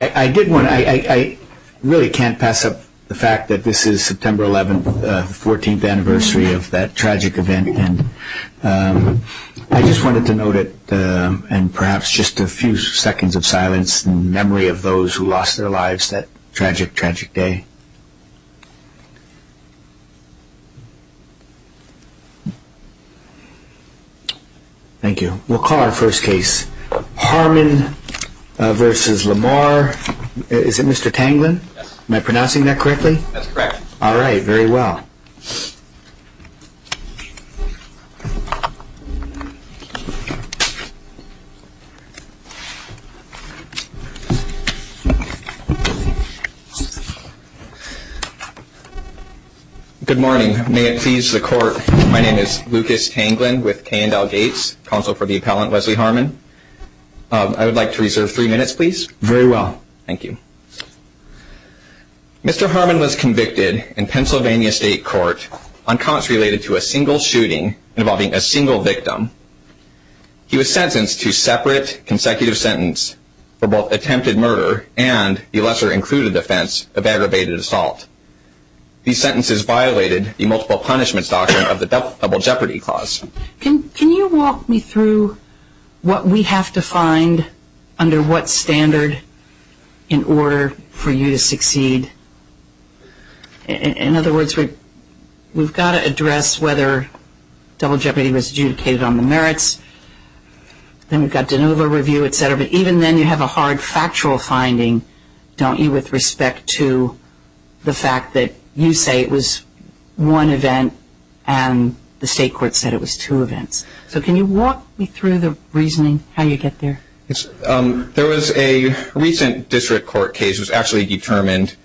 I did want to, I really can't pass up the fact that this is September 11th, the 14th anniversary of that tragic event and I just wanted to note it and perhaps just a few seconds of silence in memory of those who lost their lives that tragic, tragic day. Thank you. We'll call our first case. Harmon v. Lamar. Is it Mr. Tanglin? Yes. Am I pronouncing that correctly? That's correct. All right, very well. Good morning. May it please the court, my name is Lucas Tanglin with Kay and Dal Gates, counsel for the appellant Leslie Harmon. I would like to reserve three minutes, please. Very well. Thank you. Mr. Harmon was convicted in Pennsylvania State Court on counts related to a single shooting involving a single victim. He was sentenced to separate consecutive sentence for both attempted murder and the lesser included offense of aggravated assault. These sentences violated the multiple punishments doctrine of the double jeopardy clause. Can you walk me through what we have to find under what standard in order for you to succeed? In other words, we've got to address whether double jeopardy was adjudicated on the merits. Then we've got de novo review, et cetera. But even then you have a hard factual finding, don't you, with respect to the fact that you say it was one event and the state court said it was two events. So can you walk me through the reasoning, how you get there? There was a recent district court case that was actually determined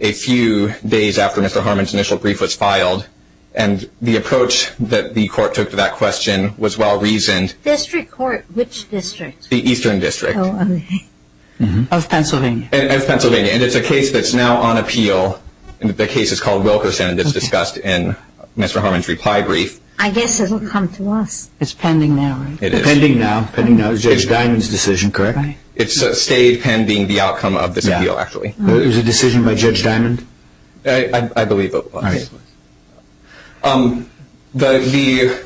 a few days after Mr. Harmon's initial brief was filed. And the approach that the court took to that question was well reasoned. District court, which district? The eastern district. Of Pennsylvania. Of Pennsylvania. And it's a case that's now on appeal. The case is called Wilkerson and it's discussed in Mr. Harmon's reply brief. I guess it will come to us. It's pending now, right? It is. It's pending now. It's Judge Diamond's decision, correct? It stayed pending the outcome of this appeal, actually. It was a decision by Judge Diamond? I believe it was. All right. The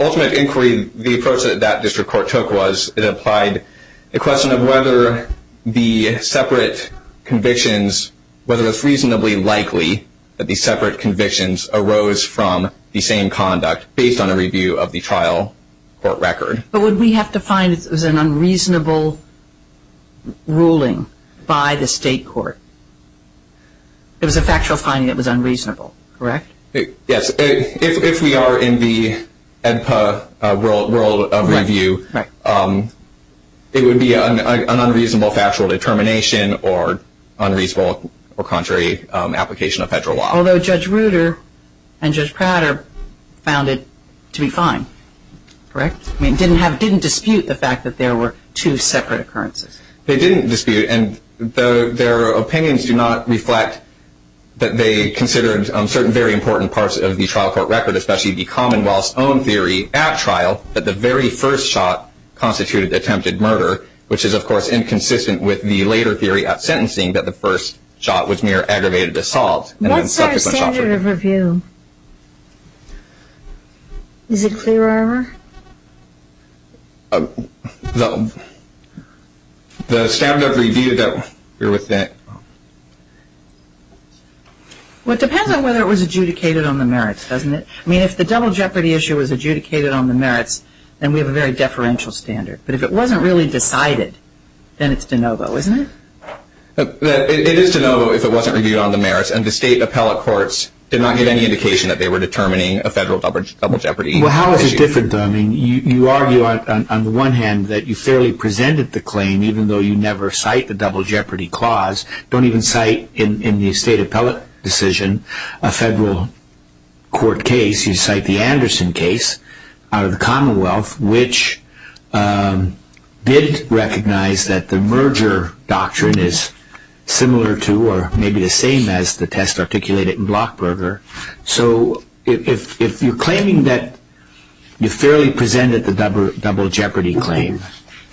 ultimate inquiry, the approach that that district court took was it applied the question of whether the separate convictions, whether it's reasonably likely that the separate convictions arose from the same conduct based on a review of the trial court record. But would we have to find it was an unreasonable ruling by the state court? It was a factual finding that was unreasonable, correct? Yes. If we are in the EDPA world of review, it would be an unreasonable factual determination or unreasonable or contrary application of federal law. Although Judge Ruder and Judge Prater found it to be fine, correct? I mean, didn't dispute the fact that there were two separate occurrences. They didn't dispute. And their opinions do not reflect that they considered certain very important parts of the trial court record, especially the commonwealth's own theory at trial that the very first shot constituted attempted murder, which is, of course, inconsistent with the later theory at sentencing that the first shot was mere aggravated assault. What's our standard of review? Is it clearer? The standard of review that we're within. Well, it depends on whether it was adjudicated on the merits, doesn't it? I mean, if the double jeopardy issue was adjudicated on the merits, then we have a very deferential standard. But if it wasn't really decided, then it's de novo, isn't it? It is de novo if it wasn't reviewed on the merits, and the state appellate courts did not get any indication that they were determining a federal double jeopardy issue. Well, how is it different? I mean, you argue on the one hand that you fairly presented the claim, even though you never cite the double jeopardy clause. Don't even cite in the state appellate decision a federal court case. You cite the Anderson case out of the Commonwealth, which did recognize that the merger doctrine is similar to or maybe the same as the test articulated in Blockburger. So if you're claiming that you fairly presented the double jeopardy claim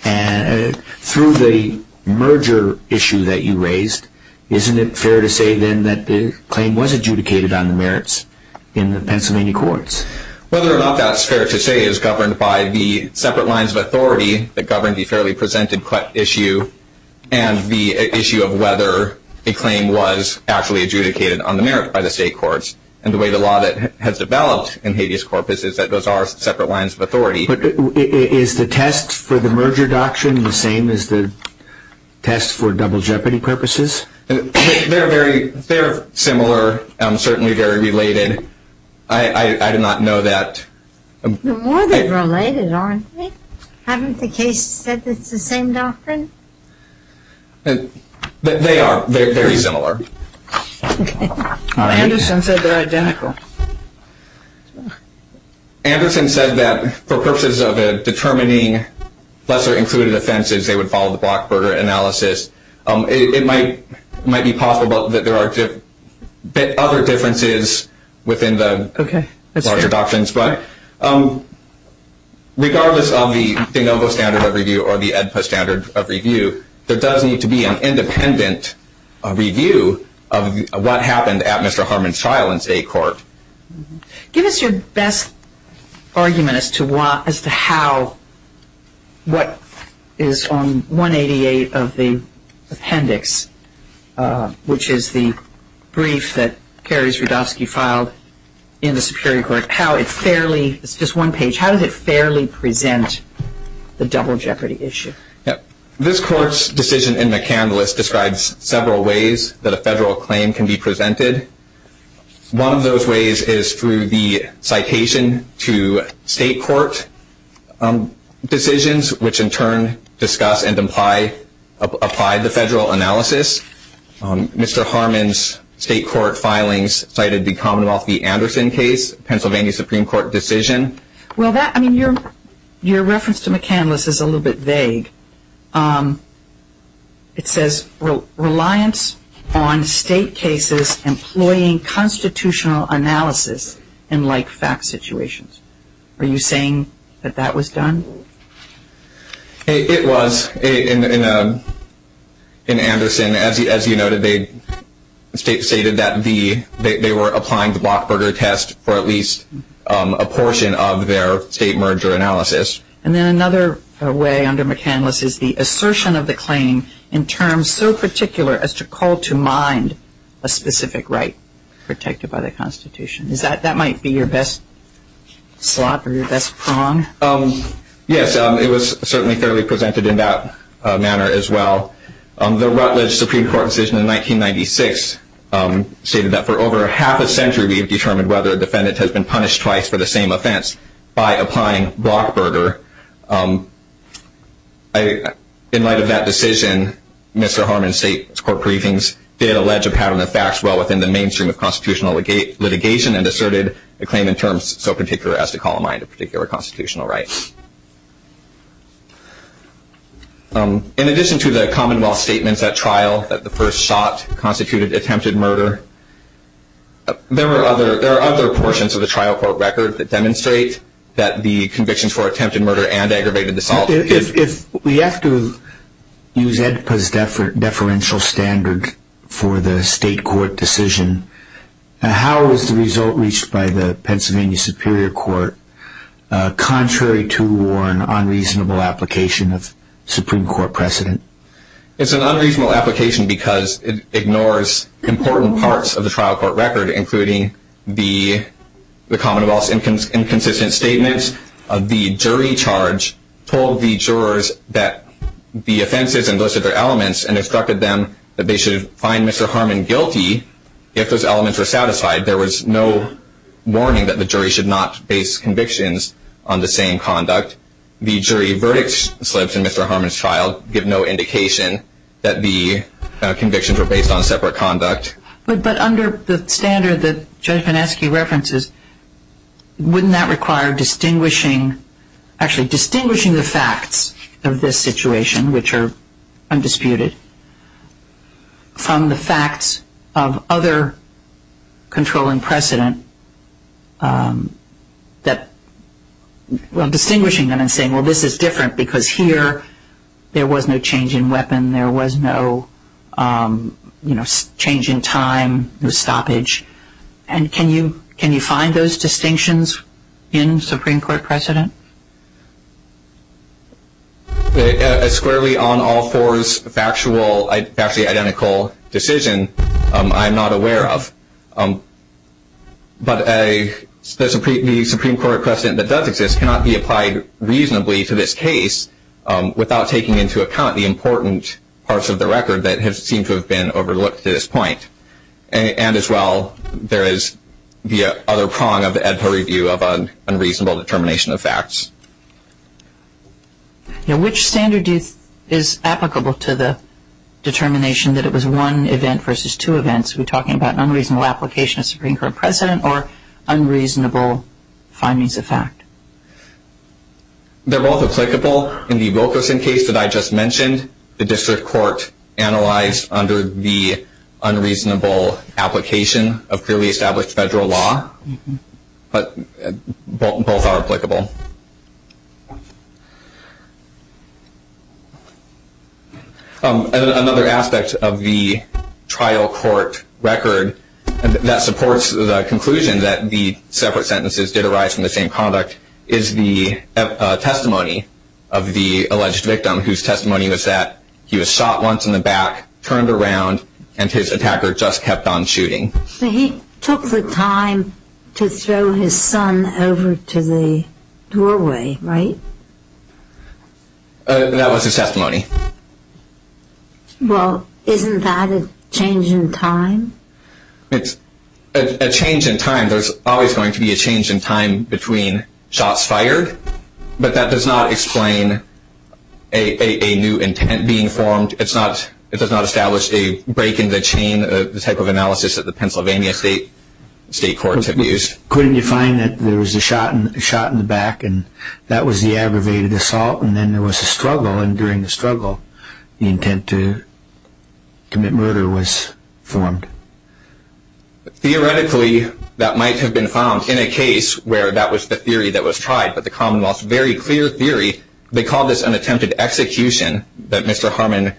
through the merger issue that you raised, isn't it fair to say then that the claim was adjudicated on the merits in the Pennsylvania courts? Whether or not that's fair to say is governed by the separate lines of authority that govern the fairly presented issue and the issue of whether a claim was actually adjudicated on the merits by the state courts. And the way the law has developed in habeas corpus is that those are separate lines of authority. But is the test for the merger doctrine the same as the test for double jeopardy purposes? They're very similar and certainly very related. I do not know that. The more they're related, aren't they? Haven't the cases said it's the same doctrine? They are very similar. Anderson said they're identical. Anderson said that for purposes of determining lesser included offenses, they would follow the Blockburger analysis. It might be possible that there are other differences within the larger doctrines. But regardless of the de novo standard of review or the EDPA standard of review, there does need to be an independent review of what happened at Mr. Harmon's trial in state court. Give us your best argument as to how what is on 188 of the appendix, which is the brief that Kerry Zrodowski filed in the Superior Court, how it fairly, it's just one page, how does it fairly present the double jeopardy issue? This court's decision in McCandless describes several ways that a federal claim can be presented. One of those ways is through the citation to state court decisions, which in turn discuss and apply the federal analysis. Mr. Harmon's state court filings cited the Commonwealth v. Anderson case, Pennsylvania Supreme Court decision. Your reference to McCandless is a little bit vague. It says reliance on state cases employing constitutional analysis in like fact situations. Are you saying that that was done? It was. In Anderson, as you noted, they stated that they were applying the Blockburger test for at least a portion of their state merger analysis. And then another way under McCandless is the assertion of the claim in terms so particular as to call to mind a specific right protected by the Constitution. That might be your best slot or your best prong. Yes, it was certainly fairly presented in that manner as well. The Rutledge Supreme Court decision in 1996 stated that for over half a century we have determined whether a defendant has been punished twice for the same offense by applying Blockburger. In light of that decision, Mr. Harmon's state court briefings did allege a pattern of facts well within the mainstream of constitutional litigation and asserted a claim in terms so particular as to call to mind a particular constitutional right. In addition to the commonwealth statements at trial that the first shot constituted attempted murder, there are other portions of the trial court record that demonstrate that the convictions for attempted murder and aggravated assault is... If we have to use AEDPA's deferential standard for the state court decision, how is the result reached by the Pennsylvania Superior Court contrary to war and unreasonable application of Supreme Court precedent? It's an unreasonable application because it ignores important parts of the trial court record including the commonwealth's inconsistent statements. The jury charge told the jurors that the offenses and those other elements and instructed them that they should find Mr. Harmon guilty if those elements were satisfied. There was no warning that the jury should not base convictions on the same conduct. The jury verdict slips in Mr. Harmon's trial give no indication that the convictions were based on separate conduct. But under the standard that Judge Vineski references, wouldn't that require distinguishing the facts of this situation, which are undisputed, from the facts of other controlling precedent that... Well, distinguishing them and saying, well, this is different because here there was no change in weapon, there was no change in time, no stoppage. And can you find those distinctions in Supreme Court precedent? A squarely on all fours factually identical decision, I'm not aware of. But the Supreme Court precedent that does exist cannot be applied reasonably to this case without taking into account the important parts of the record that seem to have been overlooked to this point. And as well, there is the other prong of the EDPO review of an unreasonable determination of facts. Now, which standard is applicable to the determination that it was one event versus two events? Are we talking about unreasonable application of Supreme Court precedent or unreasonable findings of fact? They're both applicable. For example, in the Wilkerson case that I just mentioned, the district court analyzed under the unreasonable application of clearly established federal law. But both are applicable. Another aspect of the trial court record that supports the conclusion that the separate sentences did arise from the same conduct is the testimony of the alleged victim whose testimony was that he was shot once in the back, turned around, and his attacker just kept on shooting. So he took the time to throw his son over to the doorway, right? That was his testimony. Well, isn't that a change in time? It's a change in time. There's always going to be a change in time between shots fired. But that does not explain a new intent being formed. It does not establish a break in the chain type of analysis that the Pennsylvania state courts have used. Couldn't you find that there was a shot in the back and that was the aggravated assault and then there was a struggle, and during the struggle, the intent to commit murder was formed? Theoretically, that might have been found in a case where that was the theory that was tried. But the Commonwealth's very clear theory, they called this an attempted execution that Mr. Harmon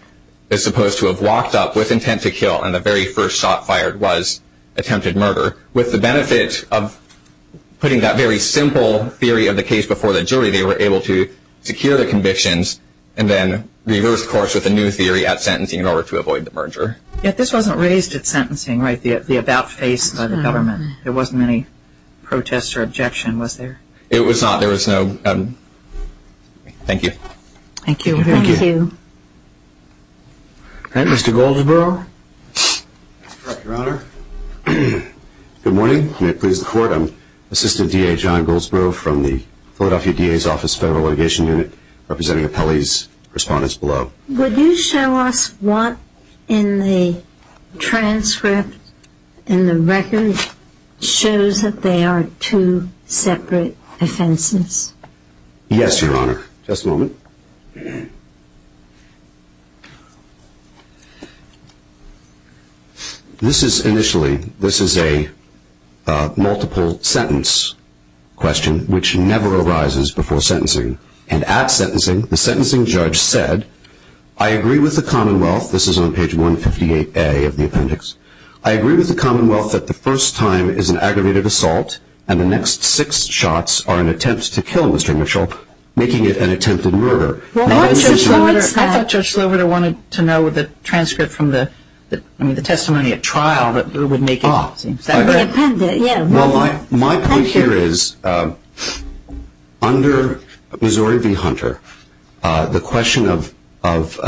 is supposed to have walked up with intent to kill, and the very first shot fired was attempted murder. With the benefit of putting that very simple theory of the case before the jury, they were able to secure the convictions and then reverse course with a new theory at sentencing in order to avoid the merger. Yet this wasn't raised at sentencing, right, the about-face by the government. There wasn't any protest or objection, was there? It was not. There was no. Thank you. Thank you. Thank you. All right, Mr. Goldsboro. Your Honor, good morning. May it please the Court. I'm Assistant D.A. John Goldsboro from the Philadelphia D.A.'s Office Federal Litigation Unit, representing appellees, respondents below. Would you show us what in the transcript, in the record, shows that they are two separate offenses? Yes, Your Honor. Just a moment. This is initially a multiple-sentence question, which never arises before sentencing. And at sentencing, the sentencing judge said, I agree with the Commonwealth, this is on page 158A of the appendix, I agree with the Commonwealth that the first time is an aggravated assault and the next six shots are an attempt to kill Mr. Mitchell, making it an attempted murder. Well, what's the point, sir? I thought Judge Slover wanted to know what the transcript from the testimony at trial would make it seem. Well, my point here is, under Missouri v. Hunter, the question of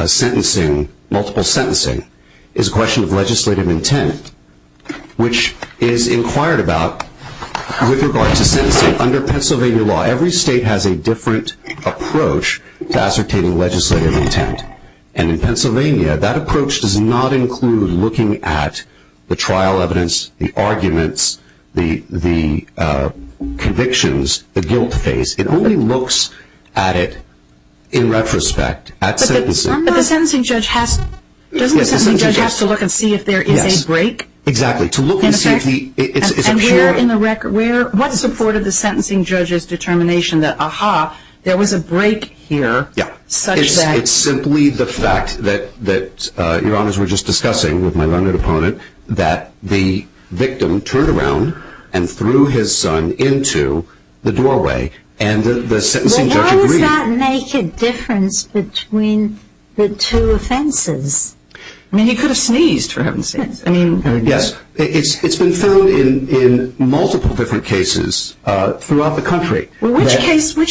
sentencing, multiple sentencing, is a question of legislative intent, and under Pennsylvania law, every state has a different approach to ascertaining legislative intent. And in Pennsylvania, that approach does not include looking at the trial evidence, the arguments, the convictions, the guilt face. It only looks at it in retrospect, at sentencing. But the sentencing judge has to look and see if there is a break? Yes, exactly. And what supported the sentencing judge's determination that, aha, there was a break here? It's simply the fact that, Your Honors, we were just discussing with my learned opponent, that the victim turned around and threw his son into the doorway, and the sentencing judge agreed. Why does that make a difference between the two offenses? I mean, he could have sneezed, for heaven's sake. I mean, yes. It's been found in multiple different cases throughout the country. Well, which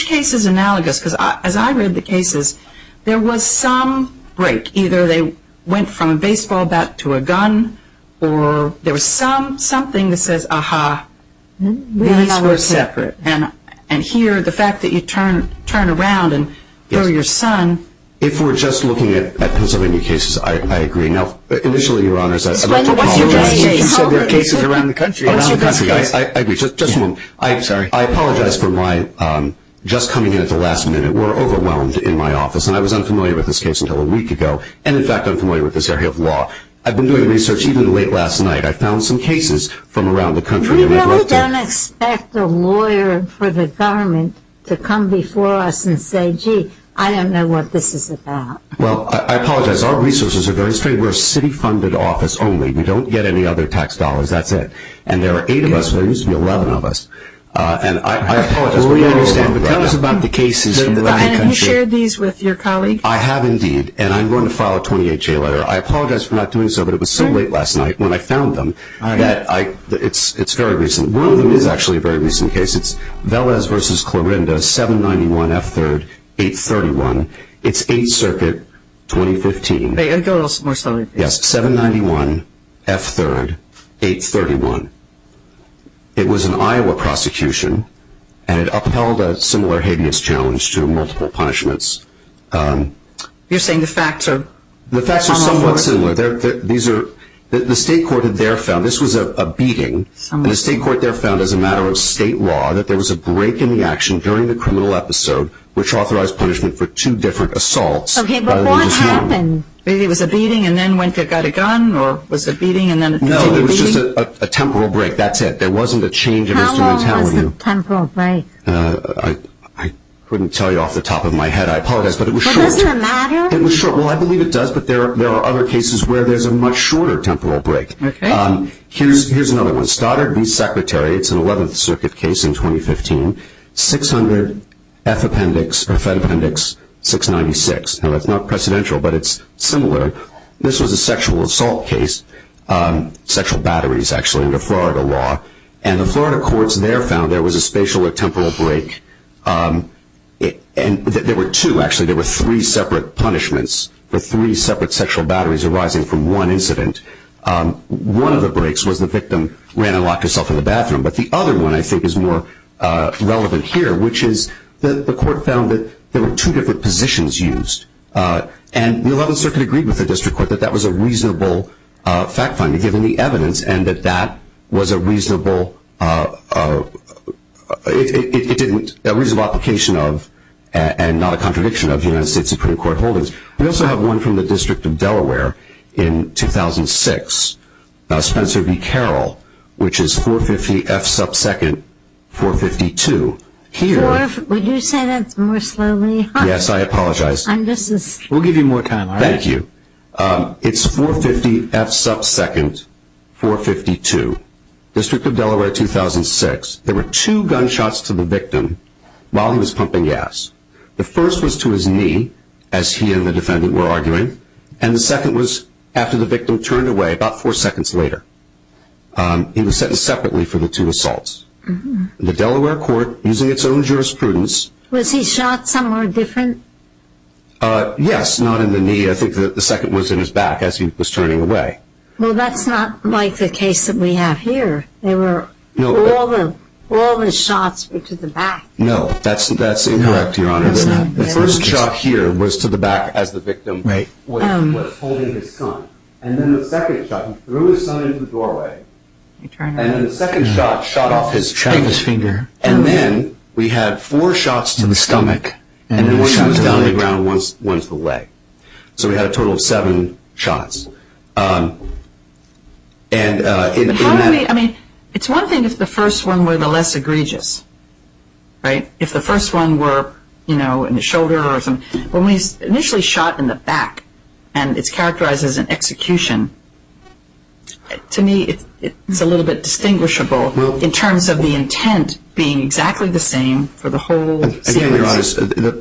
case is analogous? Because as I read the cases, there was some break. Either they went from a baseball bat to a gun, or there was something that says, aha, these were separate. And here, the fact that you turn around and throw your son. If we're just looking at Pennsylvania cases, I agree. Now, initially, Your Honors, I'd like to apologize. What's your best case? You said there are cases around the country. What's your best case? Just a moment. I'm sorry. I apologize for my just coming in at the last minute. We're overwhelmed in my office, and I was unfamiliar with this case until a week ago, and, in fact, unfamiliar with this area of law. I've been doing research even late last night. I found some cases from around the country. We really don't expect a lawyer for the government to come before us and say, gee, I don't know what this is about. Well, I apologize. Our resources are very strained. We're a city-funded office only. We don't get any other tax dollars. That's it. And there are eight of us. There used to be 11 of us. And I apologize. But tell us about the cases from around the country. You shared these with your colleague. I have, indeed. And I'm going to file a 28-J letter. I apologize for not doing so, but it was so late last night when I found them that it's very recent. One of them is actually a very recent case. It's Velez v. Clorinda, 791 F. 3rd, 831. It's 8th Circuit, 2015. Go a little more slowly, please. Yes, 791 F. 3rd, 831. It was an Iowa prosecution, and it upheld a similar habeas challenge to multiple punishments. You're saying the facts are somewhat similar? The facts are somewhat similar. The state court there found this was a beating. The state court there found as a matter of state law that there was a break in the action during the criminal episode, which authorized punishment for two different assaults. Okay, but what happened? Maybe it was a beating and then went and got a gun, or was it a beating and then it continued beating? No, it was just a temporal break. That's it. There wasn't a change in his mentality. How long was the temporal break? I couldn't tell you off the top of my head. I apologize, but it was short. But doesn't it matter? It was short. Well, I believe it does, but there are other cases where there's a much shorter temporal break. Okay. Here's another one. Stoddard v. Secretary. It's an 11th Circuit case in 2015. 600 F Appendix 696. Now, it's not precedential, but it's similar. This was a sexual assault case, sexual batteries, actually, under Florida law. And the Florida courts there found there was a spatial or temporal break. And there were two, actually. There were three separate punishments for three separate sexual batteries arising from one incident. One of the breaks was the victim ran and locked herself in the bathroom. But the other one, I think, is more relevant here, which is that the court found that there were two different positions used. And the 11th Circuit agreed with the district court that that was a reasonable fact finding, given the evidence, and that that was a reasonable application of and not a contradiction of United States Supreme Court holdings. We also have one from the District of Delaware in 2006, Spencer v. Carroll, which is 450 F sub second 452. Would you say that more slowly? Yes, I apologize. We'll give you more time. Thank you. It's 450 F sub second 452, District of Delaware 2006. There were two gunshots to the victim while he was pumping gas. The first was to his knee, as he and the defendant were arguing, and the second was after the victim turned away about four seconds later. He was sentenced separately for the two assaults. The Delaware court, using its own jurisprudence. Was he shot somewhere different? Yes, not in the knee. I think the second was in his back as he was turning away. Well, that's not like the case that we have here. All the shots were to the back. No, that's incorrect, Your Honor. The first shot here was to the back as the victim was holding his son. And then the second shot, he threw his son into the doorway. And then the second shot shot off his finger. And then we had four shots to the stomach. And one was down to the ground and one to the leg. So we had a total of seven shots. It's one thing if the first one were the less egregious. Right? If the first one were, you know, in the shoulder or something. When we initially shot in the back, and it's characterized as an execution, to me it's a little bit distinguishable in terms of the intent being exactly the same for the whole scene.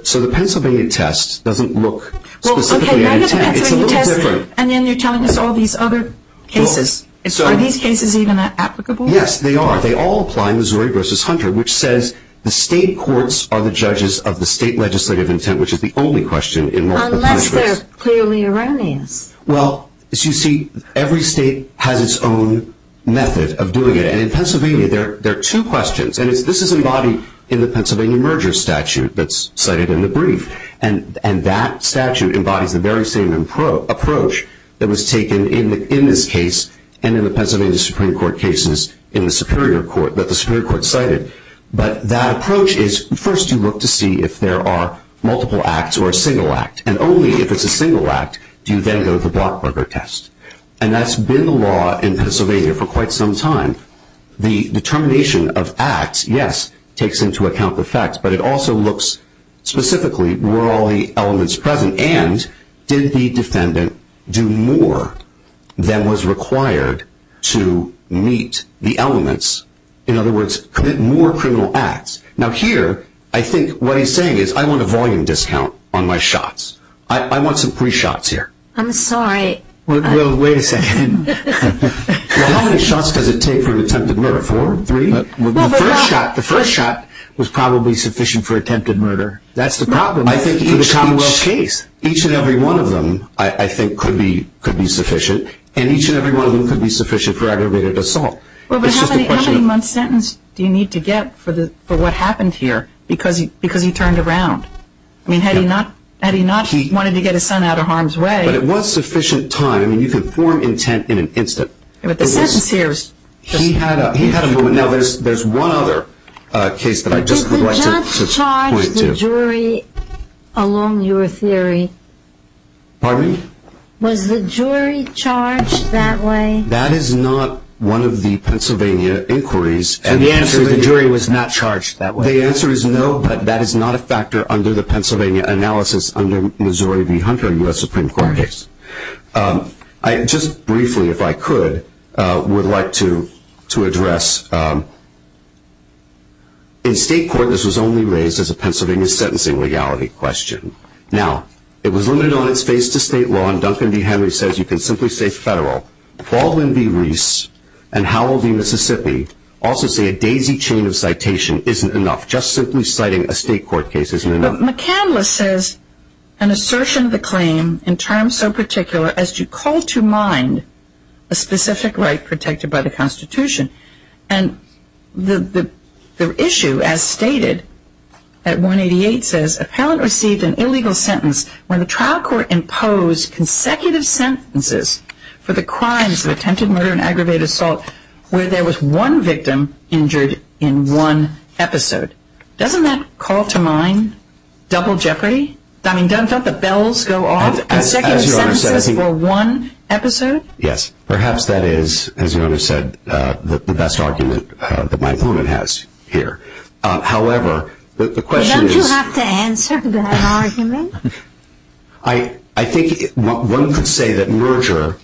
So the Pennsylvania test doesn't look specifically like that. It's a little different. And then you're telling us all these other cases. Are these cases even applicable? Yes, they are. This is a case called Applying Missouri v. Hunter, which says the state courts are the judges of the state legislative intent, which is the only question in more than one case. Unless they're clearly erroneous. Well, as you see, every state has its own method of doing it. And in Pennsylvania, there are two questions. And this is embodied in the Pennsylvania merger statute that's cited in the brief. And that statute embodies the very same approach that was taken in this case and in the Pennsylvania Supreme Court cases in the Superior Court that the Superior Court cited. But that approach is first you look to see if there are multiple acts or a single act. And only if it's a single act do you then go to the blockburger test. And that's been the law in Pennsylvania for quite some time. The determination of acts, yes, takes into account the facts, but it also looks specifically were all the elements present. And did the defendant do more than was required to meet the elements? In other words, commit more criminal acts. Now here, I think what he's saying is I want a volume discount on my shots. I want some free shots here. I'm sorry. Well, wait a second. How many shots does it take for an attempted murder? Four? Three? The first shot was probably sufficient for attempted murder. That's the problem for the Commonwealth case. Each and every one of them, I think, could be sufficient. And each and every one of them could be sufficient for aggravated assault. Well, but how many months' sentence do you need to get for what happened here because he turned around? I mean, had he not wanted to get his son out of harm's way. But it was sufficient time. I mean, you can form intent in an instant. But the sentence here is just... He had a moment. Now, there's one other case that I'd just like to point to. The jury along your theory... Pardon me? Was the jury charged that way? That is not one of the Pennsylvania inquiries. And the answer is the jury was not charged that way? The answer is no, but that is not a factor under the Pennsylvania analysis under Missouri v. Hunter, U.S. Supreme Court case. I just briefly, if I could, would like to address... In state court, this was only raised as a Pennsylvania sentencing legality question. Now, it was limited on its face to state law, and Duncan v. Henry says you can simply say federal. Baldwin v. Reese and Howell v. Mississippi also say a daisy chain of citation isn't enough. Just simply citing a state court case isn't enough. McCandless says an assertion of the claim in terms so particular as to call to mind a specific right protected by the Constitution. And the issue, as stated, at 188 says, Appellant received an illegal sentence when the trial court imposed consecutive sentences for the crimes of attempted murder and aggravated assault where there was one victim injured in one episode. Doesn't that call to mind double jeopardy? I mean, don't the bells go off? Consecutive sentences for one episode? Yes. Perhaps that is, as Your Honor said, the best argument that my opponent has here. However, the question is... Don't you have to answer that argument? I think one could say that merger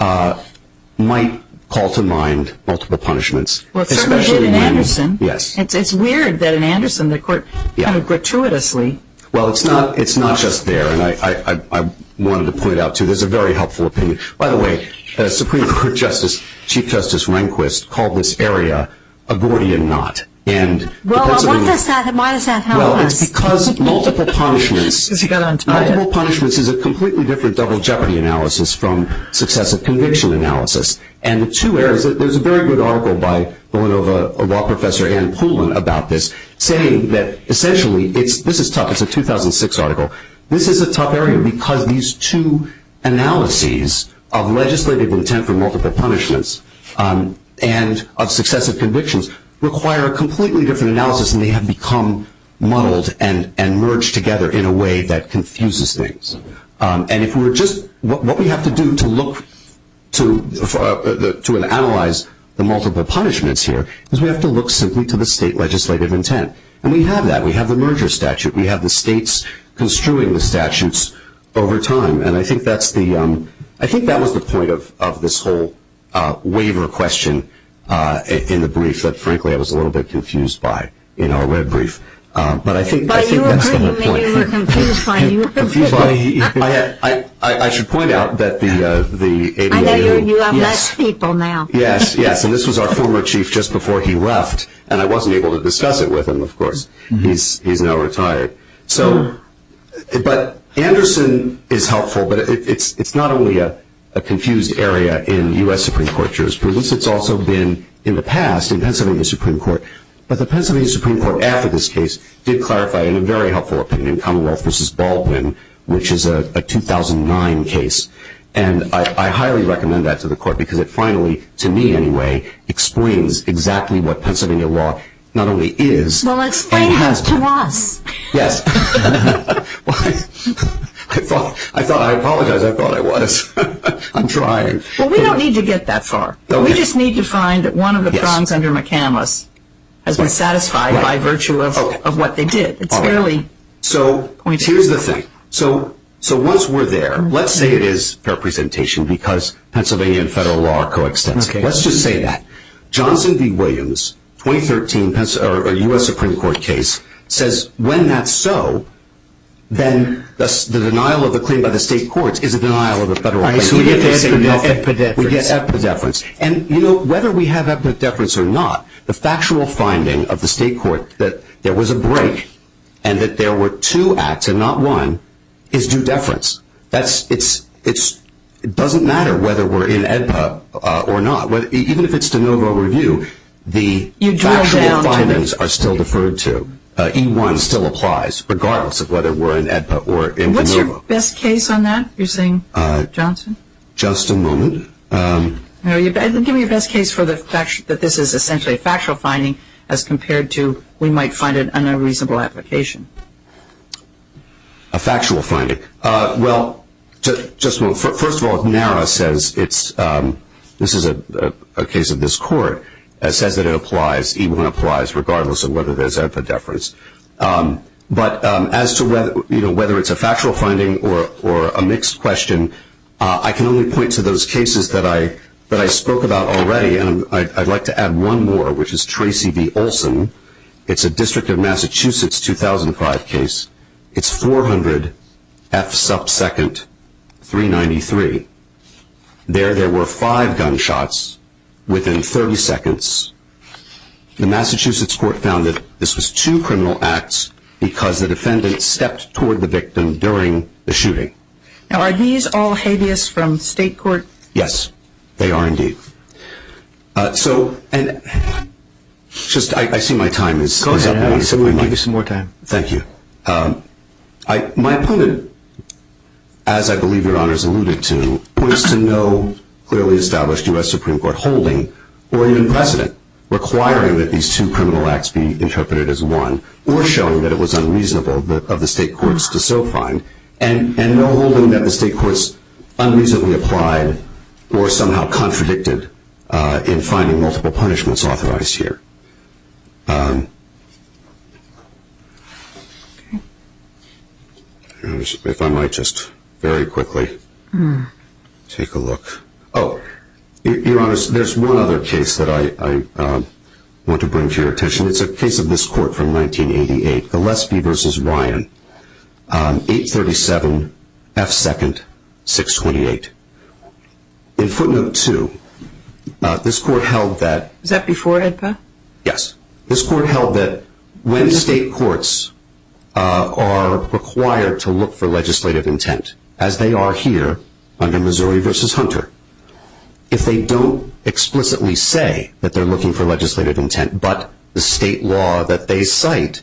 might call to mind multiple punishments, especially when... Well, it certainly did in Anderson. Yes. It's weird that in Anderson the court kind of gratuitously... Well, it's not just there, and I wanted to point out, too, this is a very helpful opinion. By the way, Supreme Court Chief Justice Rehnquist called this area a Gordian Knot. Well, why does that help us? Well, it's because multiple punishments... Because he got on Twitter. Multiple punishments is a completely different double jeopardy analysis from successive conviction analysis. And the two areas... There's a very good article by Villanova Law Professor Ann Poulin about this saying that essentially... This is tough. It's a 2006 article. This is a tough area because these two analyses of legislative intent for multiple punishments... and of successive convictions require a completely different analysis. And they have become muddled and merged together in a way that confuses things. And if we were just... What we have to do to look to and analyze the multiple punishments here... is we have to look simply to the state legislative intent. And we have that. We have the merger statute. We have the states construing the statutes over time. And I think that's the... I think that was the point of this whole waiver question in the brief... that frankly I was a little bit confused by in our web brief. But I think that's the whole point. By you agreeing, maybe you were confused by me. I should point out that the... I know you have less people now. Yes, yes. And this was our former chief just before he left. And I wasn't able to discuss it with him, of course. He's now retired. So... But Anderson is helpful. But it's not only a confused area in U.S. Supreme Court jurisprudence. It's also been in the past in Pennsylvania Supreme Court. But the Pennsylvania Supreme Court after this case did clarify, in a very helpful opinion, Commonwealth v. Baldwin, which is a 2009 case. And I highly recommend that to the court because it finally, to me anyway, explains exactly what Pennsylvania law not only is... Well, explain that to us. Yes. I apologize. I thought I was. I'm trying. Well, we don't need to get that far. We just need to find that one of the prongs under McCandless has been satisfied by virtue of what they did. It's fairly... So here's the thing. So once we're there, let's say it is fair presentation because Pennsylvania and federal law are coextensive. Let's just say that. 2013 U.S. Supreme Court case says when that's so, then the denial of a claim by the state courts is a denial of a federal claim. All right. So we get epideference. We get epideference. And, you know, whether we have epideference or not, the factual finding of the state court that there was a break and that there were two acts and not one is due deference. It doesn't matter whether we're in EDPA or not. Even if it's de novo review, the factual findings are still deferred to. E1 still applies regardless of whether we're in EDPA or in de novo. What's your best case on that, you're saying, Johnson? Just a moment. Give me your best case for the fact that this is essentially a factual finding as compared to we might find it an unreasonable application. A factual finding. Well, just a moment. First of all, NARA says it's ‑‑ this is a case of this court that says that it applies, E1 applies, regardless of whether there's epideference. But as to whether it's a factual finding or a mixed question, I can only point to those cases that I spoke about already. And I'd like to add one more, which is Tracy v. Olson. It's a District of Massachusetts 2005 case. It's 400 F sub second 393. There, there were five gunshots within 30 seconds. The Massachusetts court found that this was two criminal acts because the defendant stepped toward the victim during the shooting. Now, are these all habeas from state court? Yes, they are indeed. So, and just I see my time is up. Close it out. We'll give you some more time. Thank you. My opponent, as I believe your honors alluded to, points to no clearly established U.S. Supreme Court holding or even precedent requiring that these two criminal acts be interpreted as one or showing that it was unreasonable of the state courts to so find and no holding that the state courts unreasonably applied or somehow contradicted in finding multiple punishments authorized here. If I might just very quickly take a look. Oh, your honors, there's one other case that I want to bring to your attention. It's a case of this court from 1988, Gillespie v. Ryan, 837 F second 628. In footnote 2, this court held that. Was that before, Edpa? Yes. This court held that when state courts are required to look for legislative intent, as they are here under Missouri v. Hunter, if they don't explicitly say that they're looking for legislative intent, but the state law that they cite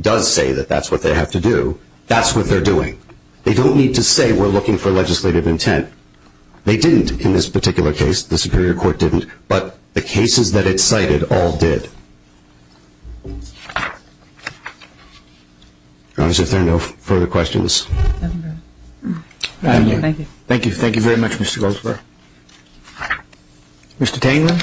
does say that that's what they have to do, that's what they're doing. They don't need to say we're looking for legislative intent. They didn't in this particular case. The Superior Court didn't. But the cases that it cited all did. Your honors, if there are no further questions. Thank you. Thank you. Thank you very much, Mr. Goldsberg. Mr. Tainman.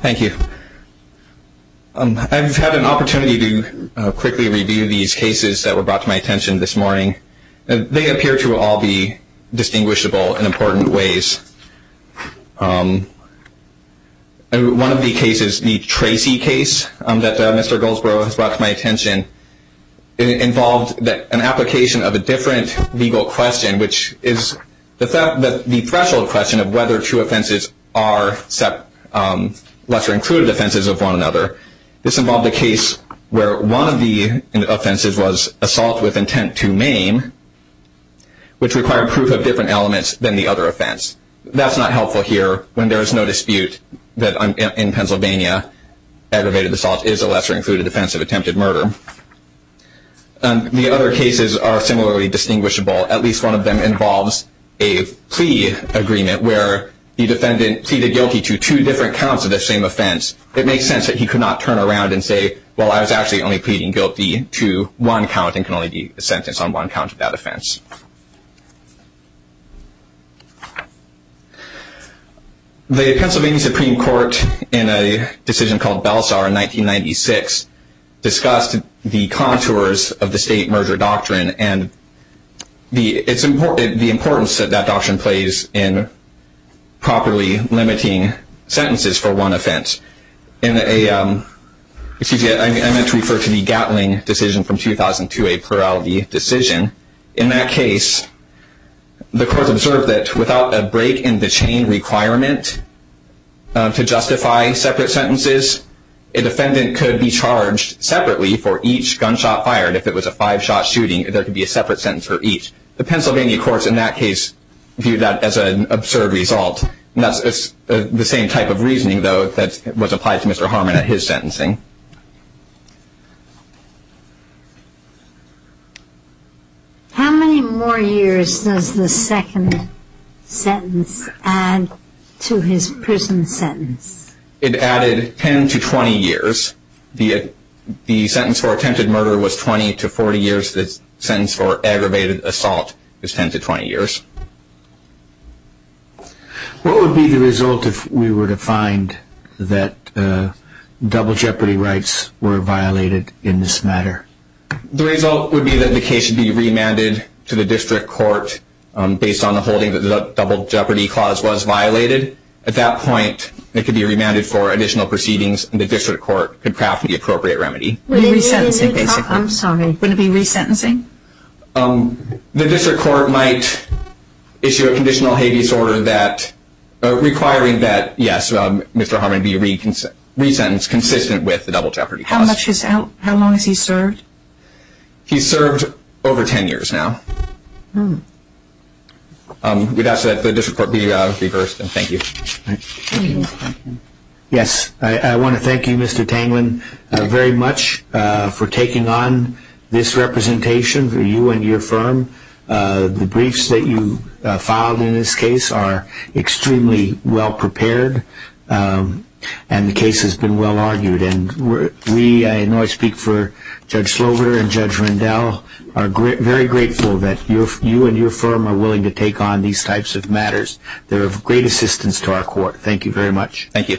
Thank you. I've had an opportunity to quickly review these cases that were brought to my attention this morning. They appear to all be distinguishable in important ways. One of the cases, the Tracy case that Mr. Goldsberg has brought to my attention, involved an application of a different legal question, which is the threshold question of whether two offenses are lesser included offenses of one another. This involved a case where one of the offenses was assault with intent to maim, which required proof of different elements than the other offense. That's not helpful here when there is no dispute that in Pennsylvania, aggravated assault is a lesser included offense of attempted murder. The other cases are similarly distinguishable. At least one of them involves a plea agreement where the defendant pleaded guilty to two different counts of the same offense. It makes sense that he could not turn around and say, well, I was actually only pleading guilty to one count and can only be sentenced on one count of that offense. The Pennsylvania Supreme Court, in a decision called Belsar in 1996, discussed the contours of the State Merger Doctrine and the importance that that doctrine plays in properly limiting sentences for one offense. I meant to refer to the Gatling decision from 2002, a plurality decision. In that case, the court observed that without a break in the chain requirement to justify separate sentences, a defendant could be charged separately for each gunshot fired. If it was a five-shot shooting, there could be a separate sentence for each. The Pennsylvania courts, in that case, viewed that as an absurd result. That's the same type of reasoning, though, that was applied to Mr. Harmon at his sentencing. How many more years does the second sentence add to his prison sentence? It added 10 to 20 years. The sentence for attempted murder was 20 to 40 years. The sentence for aggravated assault is 10 to 20 years. What would be the result if we were to find that double jeopardy rights were violated in this matter? The result would be that the case would be remanded to the district court based on the holding that the double jeopardy clause was violated. At that point, it could be remanded for additional proceedings, and the district court could craft the appropriate remedy. Resentencing, basically. I'm sorry. Wouldn't it be resentencing? The district court might issue a conditional habeas order requiring that, yes, Mr. Harmon be resentenced consistent with the double jeopardy clause. How long has he served? He's served over 10 years now. We'd ask that the district court be reversed, and thank you. Thank you. Yes. I want to thank you, Mr. Tanglin, very much for taking on this representation for you and your firm. The briefs that you filed in this case are extremely well-prepared, and the case has been well-argued. And we, I know I speak for Judge Slover and Judge Rendell, are very grateful that you and your firm are willing to take on these types of matters. They're of great assistance to our court. Thank you very much. Thank you.